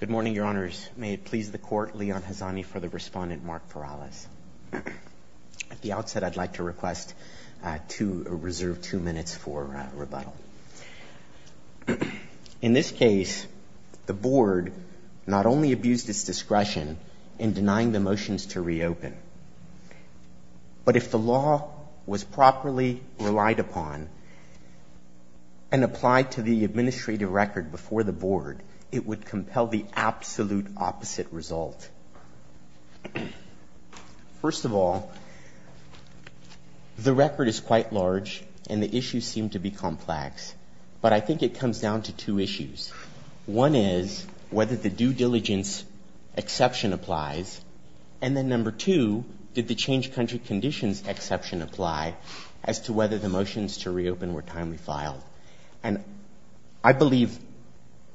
Good morning, Your Honors. May it please the Court, Leon Hazani for the Respondent, Mark Farrales. At the outset, I'd like to request to reserve two minutes for rebuttal. In this case, the Board not only abused its discretion in denying the motions to reopen, but if the law was properly relied upon and applied to the administrative record before the Board, it would compel the absolute opposite result. First of all, the record is quite large and the issues seem to be complex, but I think it comes down to two issues. One is whether the due diligence exception applies, and then number two, did the change country conditions exception apply as to whether the motions to reopen were timely filed? And I believe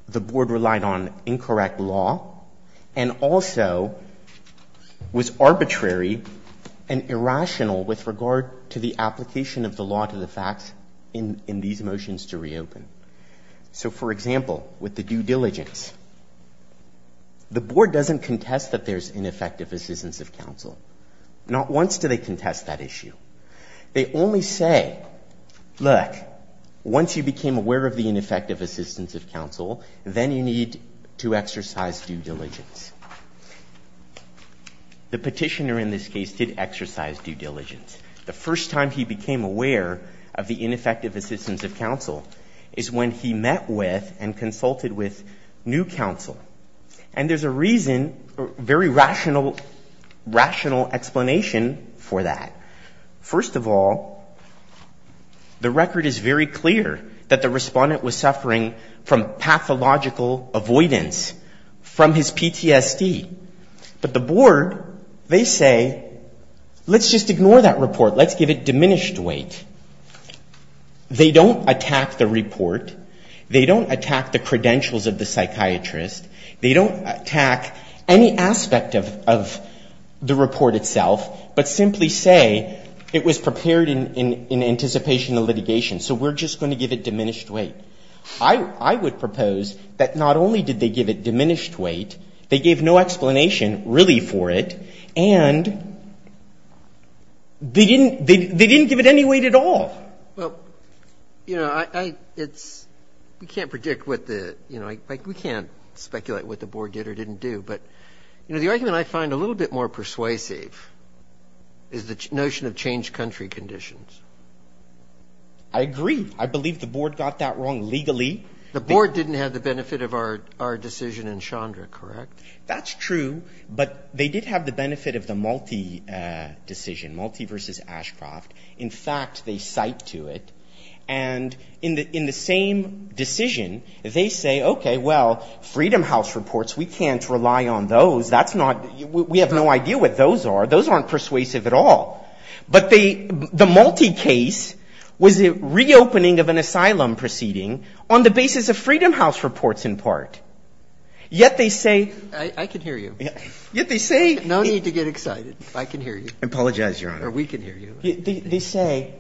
the Board relied on incorrect law and also was arbitrary and irrational with regard to the application of the law to the facts in these cases. For example, with the due diligence, the Board doesn't contest that there's ineffective assistance of counsel. Not once do they contest that issue. They only say, look, once you became aware of the ineffective assistance of counsel, then you need to exercise due diligence. The petitioner in this case did exercise due diligence. The first time he became aware of the ineffective assistance of counsel and consulted with new counsel. And there's a reason, very rational explanation for that. First of all, the record is very clear that the respondent was suffering from pathological avoidance from his PTSD. But the Board, they say, let's just ignore that report. Let's give it diminished weight. They don't attack the report. They don't attack the credentials of the psychiatrist. They don't attack any aspect of the report itself, but simply say it was prepared in anticipation of litigation, so we're just going to give it diminished weight. I would propose that not only did they give it diminished weight, they gave no explanation really for it, and they didn't give it any weight at all. They didn't give it any weight at all. Well, you know, I, it's, we can't predict what the, you know, we can't speculate what the Board did or didn't do, but, you know, the argument I find a little bit more persuasive is the notion of changed country conditions. I agree. I believe the Board got that wrong legally. The Board didn't have the benefit of our decision in Chandra, correct? That's true, but they did have the benefit of the Malti decision, Malti versus Ashcroft. In fact, they cite to it, and in the same decision, they say, okay, well, Freedom House reports, we can't rely on those. That's not, we have no idea what those are. Those aren't persuasive at all. But the Malti case was a reopening of I can hear you. Yet they say No need to get excited. I can hear you. I apologize, Your Honor. Or we can hear you. They say,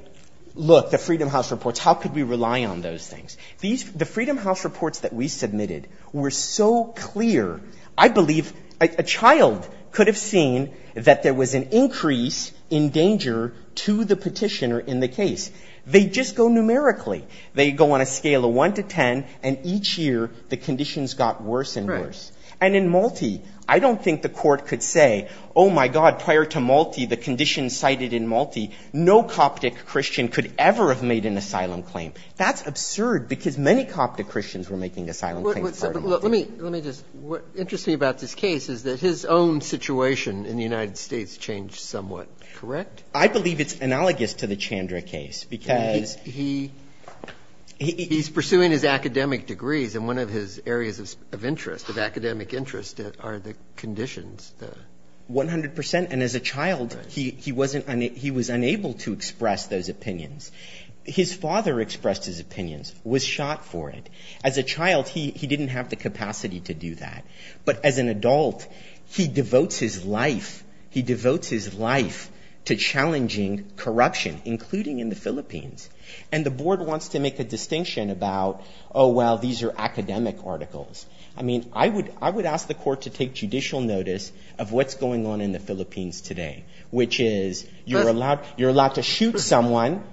look, the Freedom House reports, how could we rely on those things? These, the Freedom House reports that we submitted were so clear, I believe a child could have seen that there was an increase in danger to the Petitioner in the case. They just go numerically. They go on a scale of 1 to 10, and each year, the conditions got worse and worse. And in Malti, I don't think the Court could say, oh, my God, prior to Malti, the conditions cited in Malti, no Coptic Christian could ever have made an asylum claim. That's absurd, because many Coptic Christians were making asylum claims prior to Malti. Let me just, what interests me about this case is that his own situation in the United States changed somewhat, correct? I believe it's analogous to the Chandra case, because He's pursuing his academic degrees, and one of his areas of interest, of academic interest, are the conditions. One hundred percent. And as a child, he wasn't, he was unable to express those opinions. His father expressed his opinions, was shot for it. As a child, he didn't have the capacity to do that. But as an adult, he devotes his life, he wants to make a distinction about, oh, well, these are academic articles. I mean, I would ask the Court to take judicial notice of what's going on in the Philippines today, which is you're allowed to shoot someone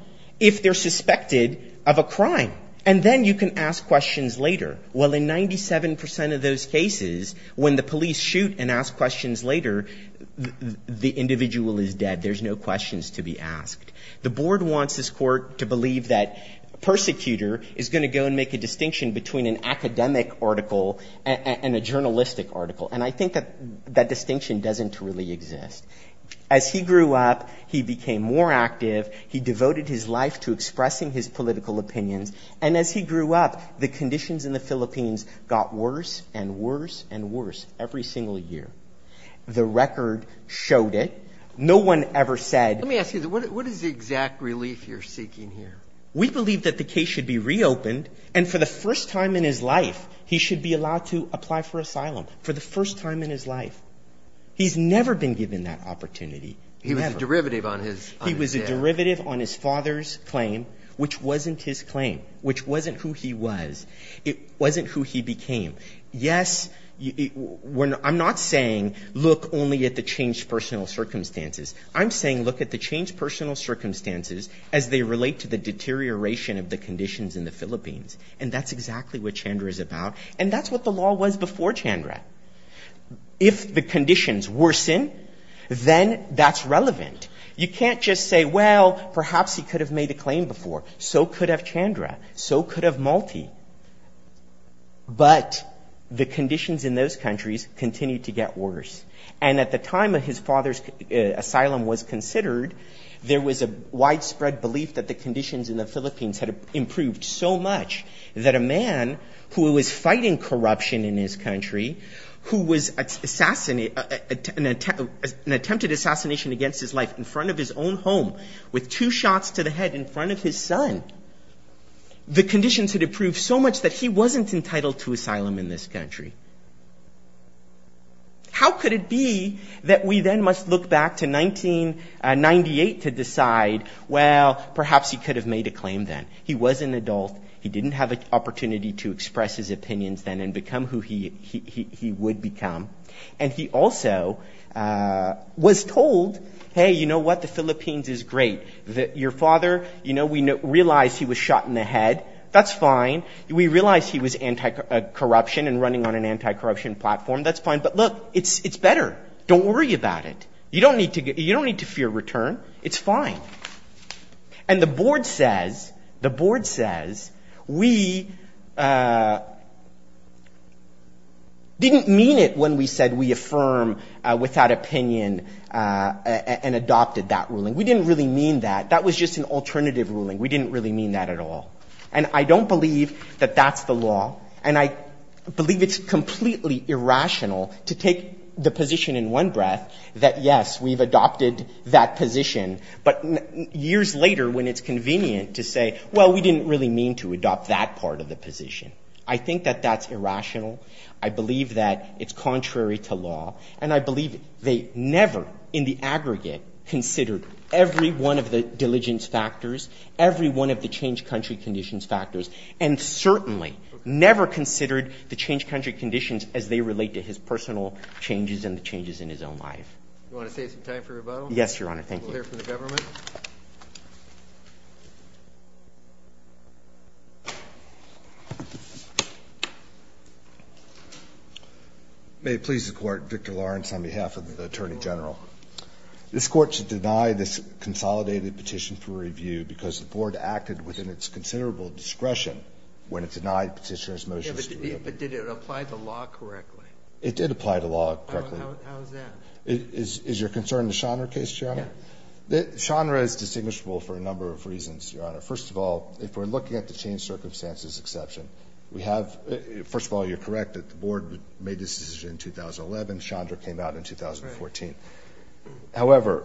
if they're suspected of a crime, and then you can ask questions later. Well, in 97 percent of those cases, when the police shoot and ask questions later, the individual is dead. There's no questions to be asked. The Board wants this Court to believe that a persecutor is going to go and make a distinction between an academic article and a journalistic article. And I think that that distinction doesn't really exist. As he grew up, he became more active. He devoted his life to expressing his political opinions. And as he grew up, the record showed it. No one ever said — Let me ask you, what is the exact relief you're seeking here? We believe that the case should be reopened, and for the first time in his life, he should be allowed to apply for asylum, for the first time in his life. He's never been given that opportunity. He was a derivative on his — He was a derivative on his father's claim, which wasn't his claim, which wasn't who he was. It wasn't who he became. Yes, we're — I'm not saying look only at the changed personal circumstances. I'm saying look at the changed personal circumstances as they relate to the deterioration of the conditions in the Philippines. And that's exactly what Chandra is about. And that's what the law was before Chandra. If the conditions worsen, then that's relevant. You can't just say, well, perhaps he could have made a claim before. So could have Chandra. So could have Malti. But the conditions in those countries continue to get worse. And at the time of his father's asylum was considered, there was a widespread belief that the conditions in the Philippines had improved so much that a man who was fighting corruption in his country, who was an attempted assassination against his life in front of his own home, with two shots to the head in front of his son, the conditions had improved so much that he wasn't entitled to asylum in this country. How could it be that we then must look back to 1998 to decide, well, perhaps he could have made a claim then. He was an adult. He didn't have an opportunity to express his opinions then and become who he would become. And he also was told, hey, you know what, the Philippines is great. Your father, you know, we realize he was shot in the head. That's fine. We realize he was anti-corruption and running on an anti-corruption platform. That's fine. But look, it's better. Don't worry about it. You don't need to you don't need to fear return. It's fine. And the board says the board says we didn't mean it when we said we affirm without opinion and adopted that ruling. We didn't really mean that. That was just an alternative ruling. We didn't really mean that at all. And I don't believe that that's the law. And I believe it's completely irrational to take the position in one breath that, yes, we've adopted that position. But years later, when it's convenient to say, well, we didn't really mean to adopt that part of the position. I think that that's irrational. I believe that it's contrary to law. And I believe they never in the aggregate considered every one of the diligence factors, every one of the change country conditions factors, and certainly never considered the change country conditions as they relate to his personal changes and the changes in his own life. You want to save some time for rebuttal? Yes, Your Honor. Thank you for the government. May it please the court. Victor Lawrence, on behalf of the attorney general. This court should deny this consolidated petition for review because the board acted within its considerable discretion when it denied petitioners motions. But did it apply to law correctly? It did apply to law correctly. How is that? Is your concern the Chandra case, Your Honor? Chandra is distinguishable for a number of reasons, Your Honor. First of all, if we're looking at the change circumstances exception, we have, first of all, you're correct that the board made this decision in 2011. Chandra came out in 2014. However,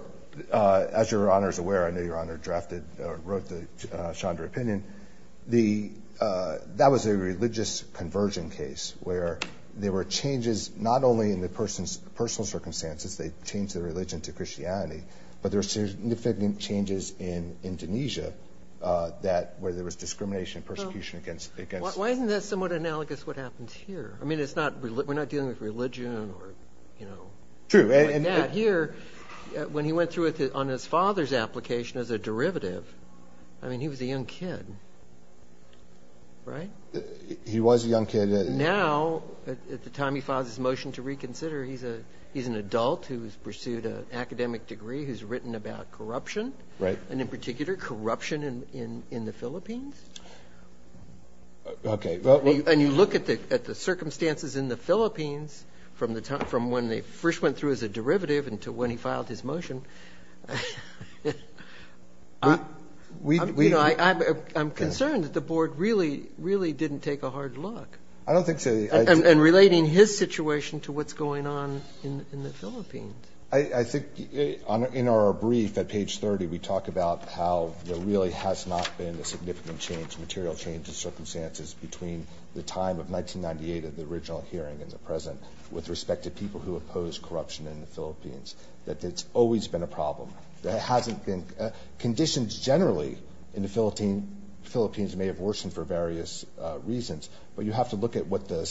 as Your Honor is aware, I know Your Honor drafted or wrote the Chandra opinion. That was a religious conversion case where there were changes not only in the person's personal circumstances, they changed their religion to Christianity, but there were significant changes in Indonesia where there was discrimination and persecution against. Well, why isn't that somewhat analogous to what happens here? I mean, we're not dealing with religion or, you know, like that here. When he went through on his father's application as a derivative, I mean, he was a young kid, right? He was a young kid. Now, at the time he files his motion to reconsider, he's an adult who has pursued an academic degree who's written about corruption. Right. And in particular, corruption in the Philippines. Okay. And you look at the circumstances in the Philippines from when they first went through as a derivative until when he filed his motion. You know, I'm concerned that the board really, really didn't take a hard look. I don't think so. And relating his situation to what's going on in the Philippines. I think in our brief at page 30, we talk about how there really has not been a significant change, material change in circumstances, between the time of 1998 and the original hearing and the present with respect to people who oppose corruption in the Philippines. That it's always been a problem. Conditions generally in the Philippines may have worsened for various reasons, but you have to look at what the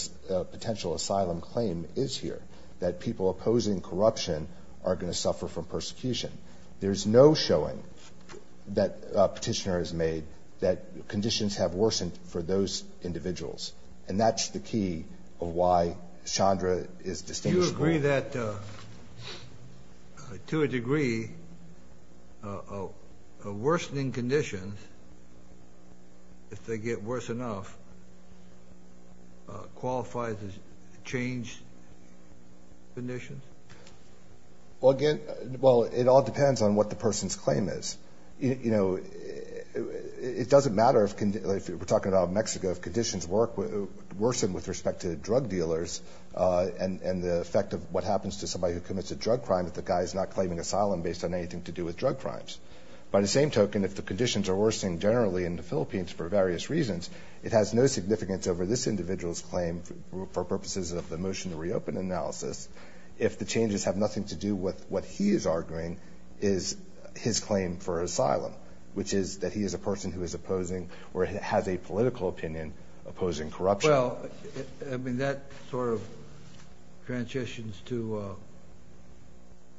potential asylum claim is here. That people opposing corruption are going to suffer from persecution. There's no showing that petitioner has made that conditions have worsened for those individuals. And that's the key of why Chandra is distinguished. Do you agree that, to a degree, worsening conditions, if they get worse enough, qualifies as changed conditions? Well, it all depends on what the person's claim is. You know, it doesn't matter if we're talking about Mexico, if conditions worsen with respect to drug dealers and the effect of what happens to somebody who commits a drug crime if the guy is not claiming asylum based on anything to do with drug crimes. By the same token, if the conditions are worsening generally in the Philippines for various reasons, it has no significance over this individual's claim for purposes of the motion to reopen analysis. If the changes have nothing to do with what he is arguing is his claim for asylum, which is that he is a person who is opposing or has a political opinion opposing corruption. Well, I mean, that sort of transitions to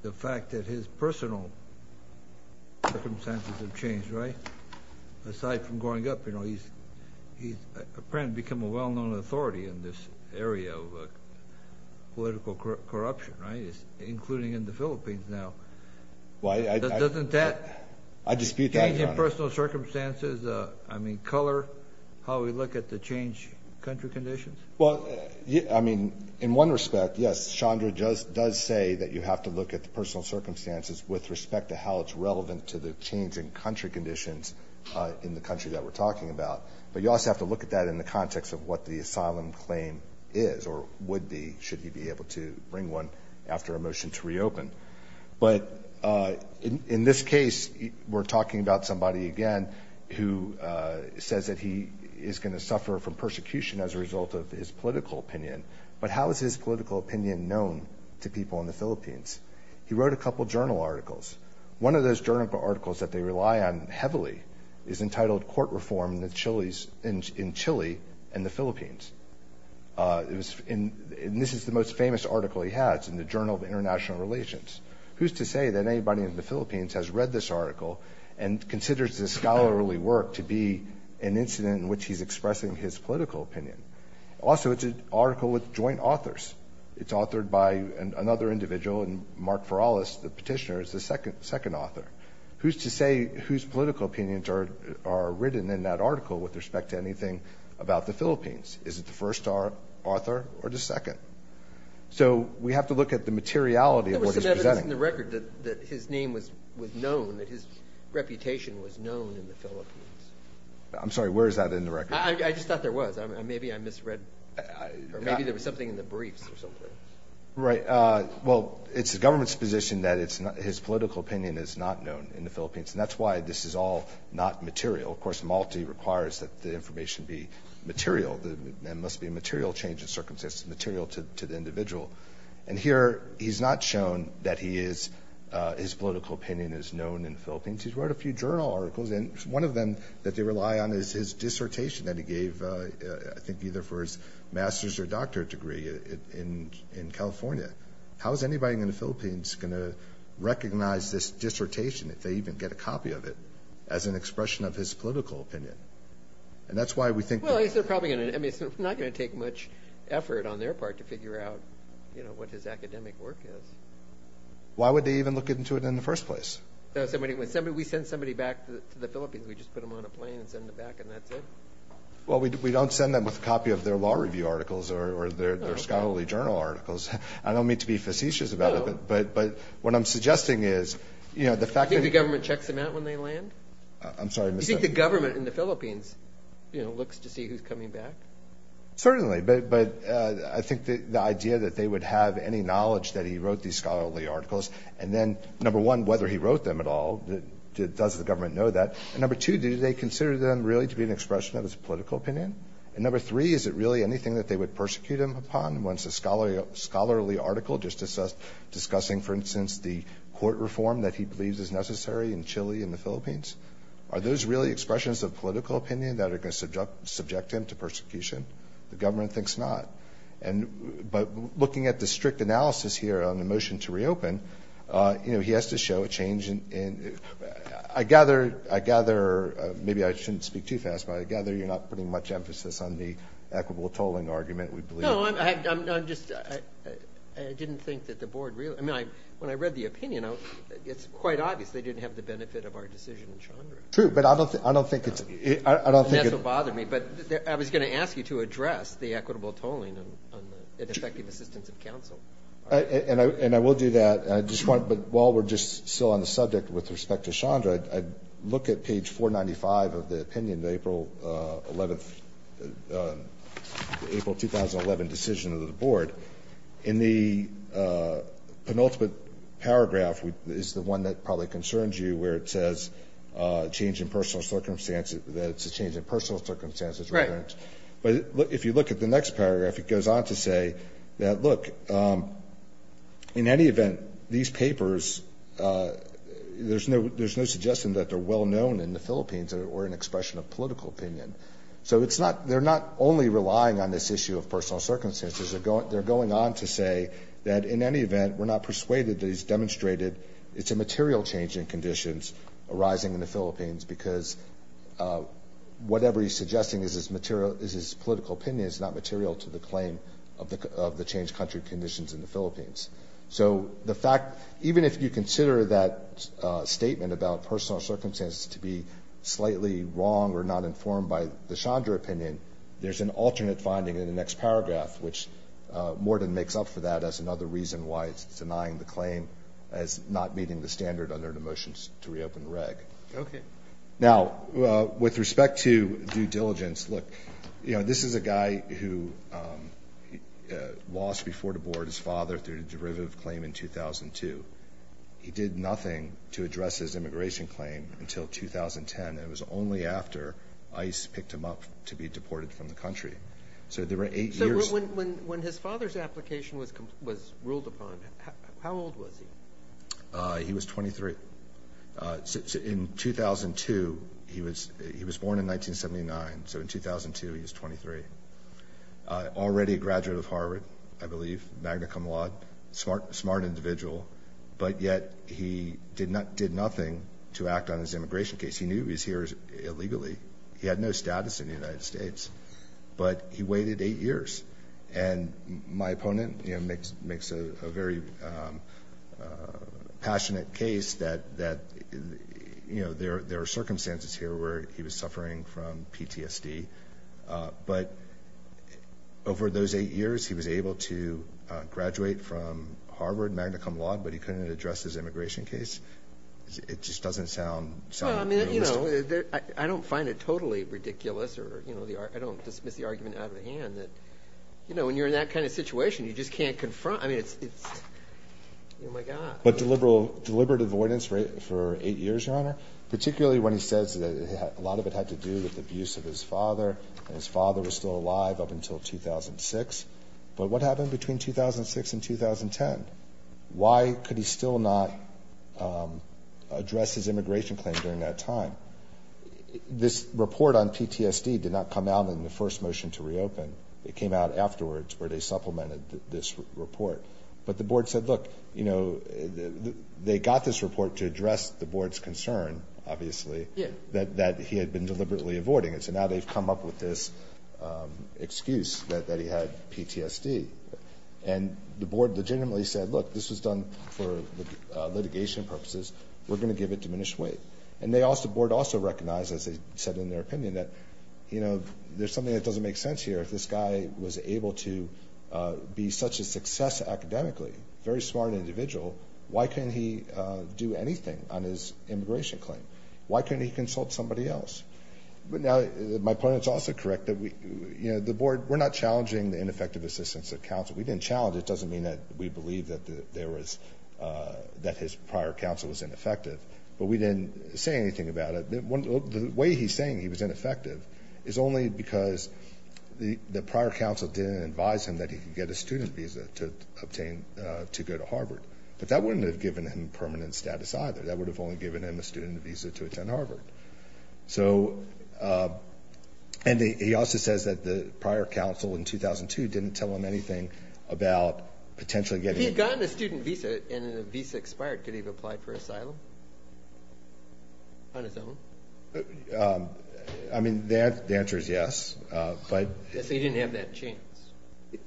the fact that his personal circumstances have changed, right? Aside from growing up, you know, he's apparently become a well-known authority in this area of political corruption, right? Including in the Philippines now. Doesn't that change in personal circumstances, I mean, color, how we look at the changed country conditions? Well, I mean, in one respect, yes, Chandra does say that you have to look at the personal circumstances with respect to how it's relevant to the changing country conditions in the country that we're talking about. But you also have to look at that in the context of what the asylum claim is or would be should he be able to bring one after a motion to reopen. But in this case, we're talking about somebody, again, who says that he is going to suffer from persecution as a result of his political opinion. But how is his political opinion known to people in the Philippines? He wrote a couple journal articles. One of those journal articles that they rely on heavily is entitled Court Reform in Chile and the Philippines. And this is the most famous article he has in the Journal of International Relations. Who's to say that anybody in the Philippines has read this article and considers this scholarly work to be an incident in which he's expressing his political opinion? Also, it's an article with joint authors. It's authored by another individual, and Mark Feralas, the petitioner, is the second author. Who's to say whose political opinions are written in that article with respect to anything about the Philippines? Is it the first author or the second? So we have to look at the materiality of what he's presenting. There was some evidence in the record that his name was known, that his reputation was known in the Philippines. I'm sorry, where is that in the record? I just thought there was. Maybe I misread. Maybe there was something in the briefs or something. Right. Well, it's the government's position that his political opinion is not known in the Philippines, and that's why this is all not material. Of course, Malti requires that the information be material. There must be a material change of circumstances, material to the individual. And here he's not shown that his political opinion is known in the Philippines. He's wrote a few journal articles, and one of them that they rely on is his dissertation that he gave, I think, either for his master's or doctorate degree in California. How is anybody in the Philippines going to recognize this dissertation, if they even get a copy of it, as an expression of his political opinion? And that's why we think— Well, it's not going to take much effort on their part to figure out what his academic work is. Why would they even look into it in the first place? We send somebody back to the Philippines. We just put them on a plane and send them back, and that's it. Well, we don't send them with a copy of their law review articles or their scholarly journal articles. I don't mean to be facetious about it, but what I'm suggesting is the fact that— Do you think the government checks them out when they land? I'm sorry, Mr.— Do you think the government in the Philippines looks to see who's coming back? Certainly, but I think the idea that they would have any knowledge that he wrote these scholarly articles, and then, number one, whether he wrote them at all, does the government know that? And number two, do they consider them really to be an expression of his political opinion? And number three, is it really anything that they would persecute him upon once a scholarly article, just discussing, for instance, the court reform that he believes is necessary in Chile and the Philippines? Are those really expressions of political opinion that are going to subject him to persecution? The government thinks not. But looking at the strict analysis here on the motion to reopen, he has to show a change in— I gather—maybe I shouldn't speak too fast, but I gather you're not putting much emphasis on the equitable tolling argument we believe— No, I'm just—I didn't think that the board really— I mean, when I read the opinion, it's quite obvious they didn't have the benefit of our decision in Chandra. True, but I don't think it's— And that's what bothered me. But I was going to ask you to address the equitable tolling and effective assistance of counsel. And I will do that. And I just want—but while we're just still on the subject with respect to Chandra, I'd look at page 495 of the opinion of the April 11th—April 2011 decision of the board. In the penultimate paragraph is the one that probably concerns you, where it says change in personal circumstances—that it's a change in personal circumstances. Right. But if you look at the next paragraph, it goes on to say that, look, in any event, these papers—there's no suggestion that they're well-known in the Philippines or an expression of political opinion. So it's not—they're not only relying on this issue of personal circumstances. They're going on to say that, in any event, we're not persuaded that he's demonstrated it's a material change in conditions arising in the Philippines because whatever he's suggesting is his political opinion is not material to the claim of the changed country conditions in the Philippines. So the fact—even if you consider that statement about personal circumstances to be slightly wrong or not informed by the Chandra opinion, there's an alternate finding in the next paragraph, which Morden makes up for that as another reason why it's denying the claim as not meeting the standard under the motions to reopen the reg. Okay. Now, with respect to due diligence, look, you know, this is a guy who lost before the board his father through a derivative claim in 2002. He did nothing to address his immigration claim until 2010, and it was only after ICE picked him up to be deported from the country. So there were eight years— So when his father's application was ruled upon, how old was he? He was 23. In 2002, he was born in 1979, so in 2002 he was 23. Already a graduate of Harvard, I believe, magna cum laude, smart individual, but yet he did nothing to act on his immigration case. He knew he was here illegally. He had no status in the United States, but he waited eight years. And my opponent makes a very passionate case that, you know, there are circumstances here where he was suffering from PTSD. But over those eight years, he was able to graduate from Harvard magna cum laude, but he couldn't address his immigration case. It just doesn't sound realistic. Well, I mean, you know, I don't find it totally ridiculous, or I don't dismiss the argument out of the hand that, you know, when you're in that kind of situation, you just can't confront it. I mean, it's, oh, my God. But deliberate avoidance for eight years, Your Honor, particularly when he says that a lot of it had to do with the abuse of his father and his father was still alive up until 2006. But what happened between 2006 and 2010? Why could he still not address his immigration claim during that time? This report on PTSD did not come out in the first motion to reopen. It came out afterwards where they supplemented this report. But the board said, look, you know, they got this report to address the board's concern, obviously, that he had been deliberately avoiding it. So now they've come up with this excuse that he had PTSD. And the board legitimately said, look, this was done for litigation purposes. We're going to give it diminished weight. And the board also recognized, as they said in their opinion, that, you know, there's something that doesn't make sense here. If this guy was able to be such a success academically, very smart individual, why couldn't he do anything on his immigration claim? Why couldn't he consult somebody else? But now my point is also correct that, you know, the board, we're not challenging the ineffective assistance of counsel. We didn't challenge it. It doesn't mean that we believe that his prior counsel was ineffective. But we didn't say anything about it. The way he's saying he was ineffective is only because the prior counsel didn't advise him that he could get a student visa to obtain to go to Harvard. But that wouldn't have given him permanent status either. That would have only given him a student visa to attend Harvard. So and he also says that the prior counsel in 2002 didn't tell him anything about potentially getting. If he had gotten a student visa and the visa expired, could he have applied for asylum on his own? I mean, the answer is yes. So he didn't have that chance.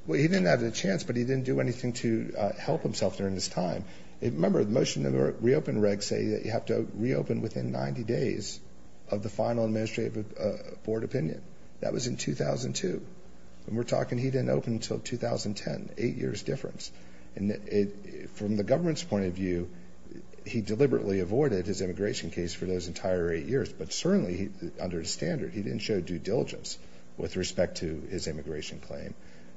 Well, he didn't have the chance, but he didn't do anything to help himself during this time. Remember, the motion to reopen regs say that you have to reopen within 90 days of the final administrative board opinion. That was in 2002. And we're talking he didn't open until 2010, eight years difference. And from the government's point of view, he deliberately avoided his immigration case for those entire eight years. But certainly, under his standard, he didn't show due diligence with respect to his immigration claim.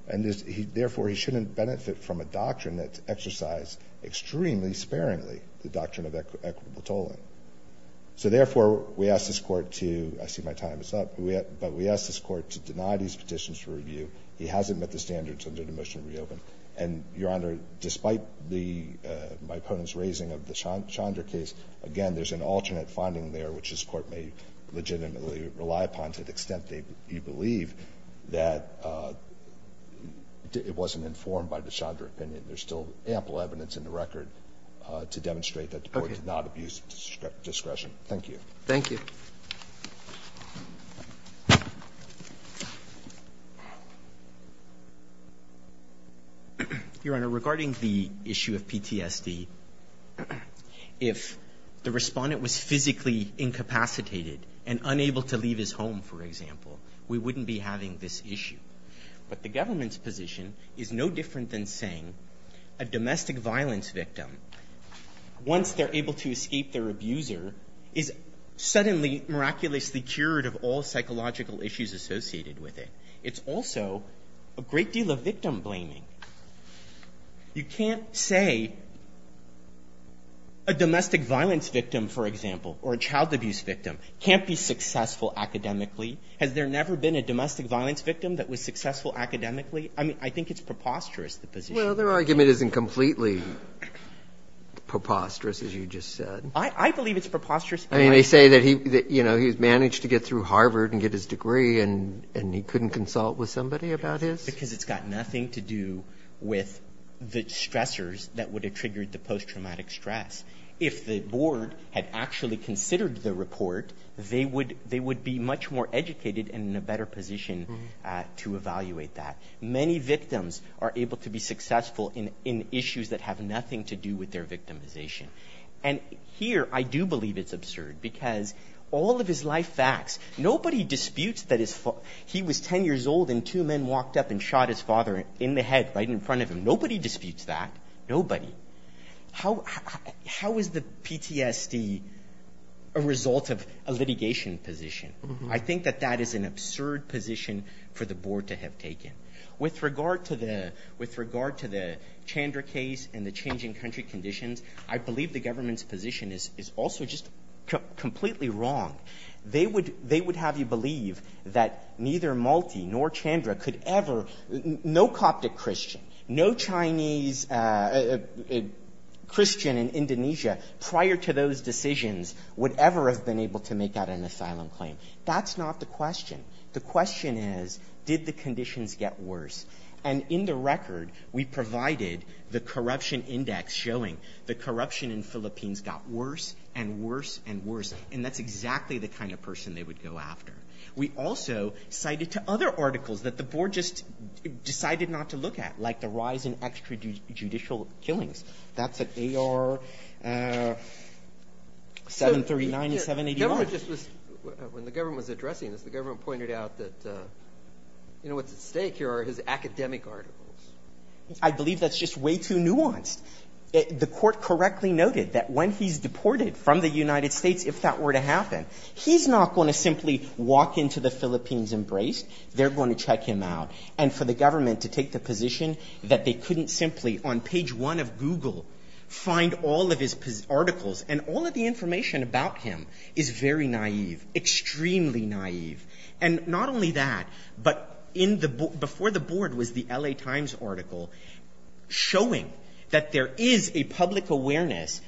And therefore, he shouldn't benefit from a doctrine that's exercised extremely sparingly, the doctrine of equitable tolling. So therefore, we ask this court to, I see my time is up, but we ask this court to deny these petitions for review. He hasn't met the standards under the motion to reopen. And, Your Honor, despite my opponent's raising of the Chandra case, again, there's an alternate finding there, which this court may legitimately rely upon to the extent they believe that it wasn't informed by the Chandra opinion. There's still ample evidence in the record to demonstrate that the court did not abuse discretion. Thank you. Thank you. Your Honor, regarding the issue of PTSD, if the respondent was physically incapacitated and unable to leave his home, for example, we wouldn't be having this issue. But the government's position is no different than saying a domestic violence victim, once they're able to escape their abuser, is suddenly miraculously cured of all psychological issues associated with it. It's also a great deal of victim blaming. You can't say a domestic violence victim, for example, or a child abuse victim can't be successful academically. Has there never been a domestic violence victim that was successful academically? I mean, I think it's preposterous, the position. Well, their argument isn't completely preposterous, as you just said. I believe it's preposterous. I mean, they say that he's managed to get through Harvard and get his degree, and he couldn't consult with somebody about his. Because it's got nothing to do with the stressors that would have triggered the post-traumatic stress. If the board had actually considered the report, they would be much more educated and in a better position to evaluate that. Many victims are able to be successful in issues that have nothing to do with their victimization. And here, I do believe it's absurd, because all of his life facts, nobody disputes that he was 10 years old and two men walked up and shot his father in the head right in front of him. Nobody disputes that. Nobody. How is the PTSD a result of a litigation position? I think that that is an absurd position for the board to have taken. With regard to the Chandra case and the changing country conditions, I believe the government's position is also just completely wrong. They would have you believe that neither Malti nor Chandra could ever, no Coptic Christian, no Chinese Christian in Indonesia prior to those decisions would ever have been able to make out an asylum claim. That's not the question. The question is, did the conditions get worse? And in the record, we provided the corruption index showing the corruption in Philippines got worse and worse and worse. And that's exactly the kind of person they would go after. We also cited to other articles that the board just decided not to look at, like the rise in extrajudicial killings. That's at AR 739 and 781. When the government was addressing this, the government pointed out that what's at stake here are his academic articles. I believe that's just way too nuanced. The court correctly noted that when he's deported from the United States, if that were to happen, he's not going to simply walk into the Philippines embraced. They're going to check him out. And for the government to take the position that they couldn't simply on page one of Google find all of his articles and all of the information about him is very naive, extremely naive. And not only that, but before the board was the L.A. Times article showing that there is a public awareness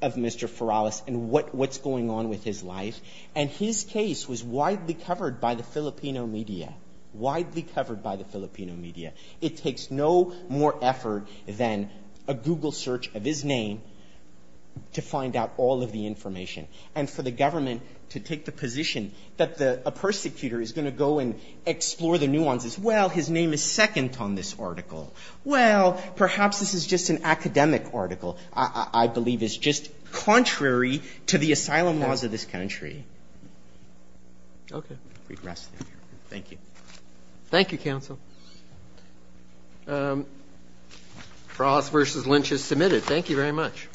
of Mr. Feralas and what's going on with his life. And his case was widely covered by the Filipino media, widely covered by the Filipino media. It takes no more effort than a Google search of his name to find out all of the information. And for the government to take the position that a persecutor is going to go and explore the nuances. Well, his name is second on this article. Well, perhaps this is just an academic article. I believe it's just contrary to the asylum laws of this country. Okay. Thank you. Thank you, counsel. Feralas v. Lynch is submitted. Thank you very much.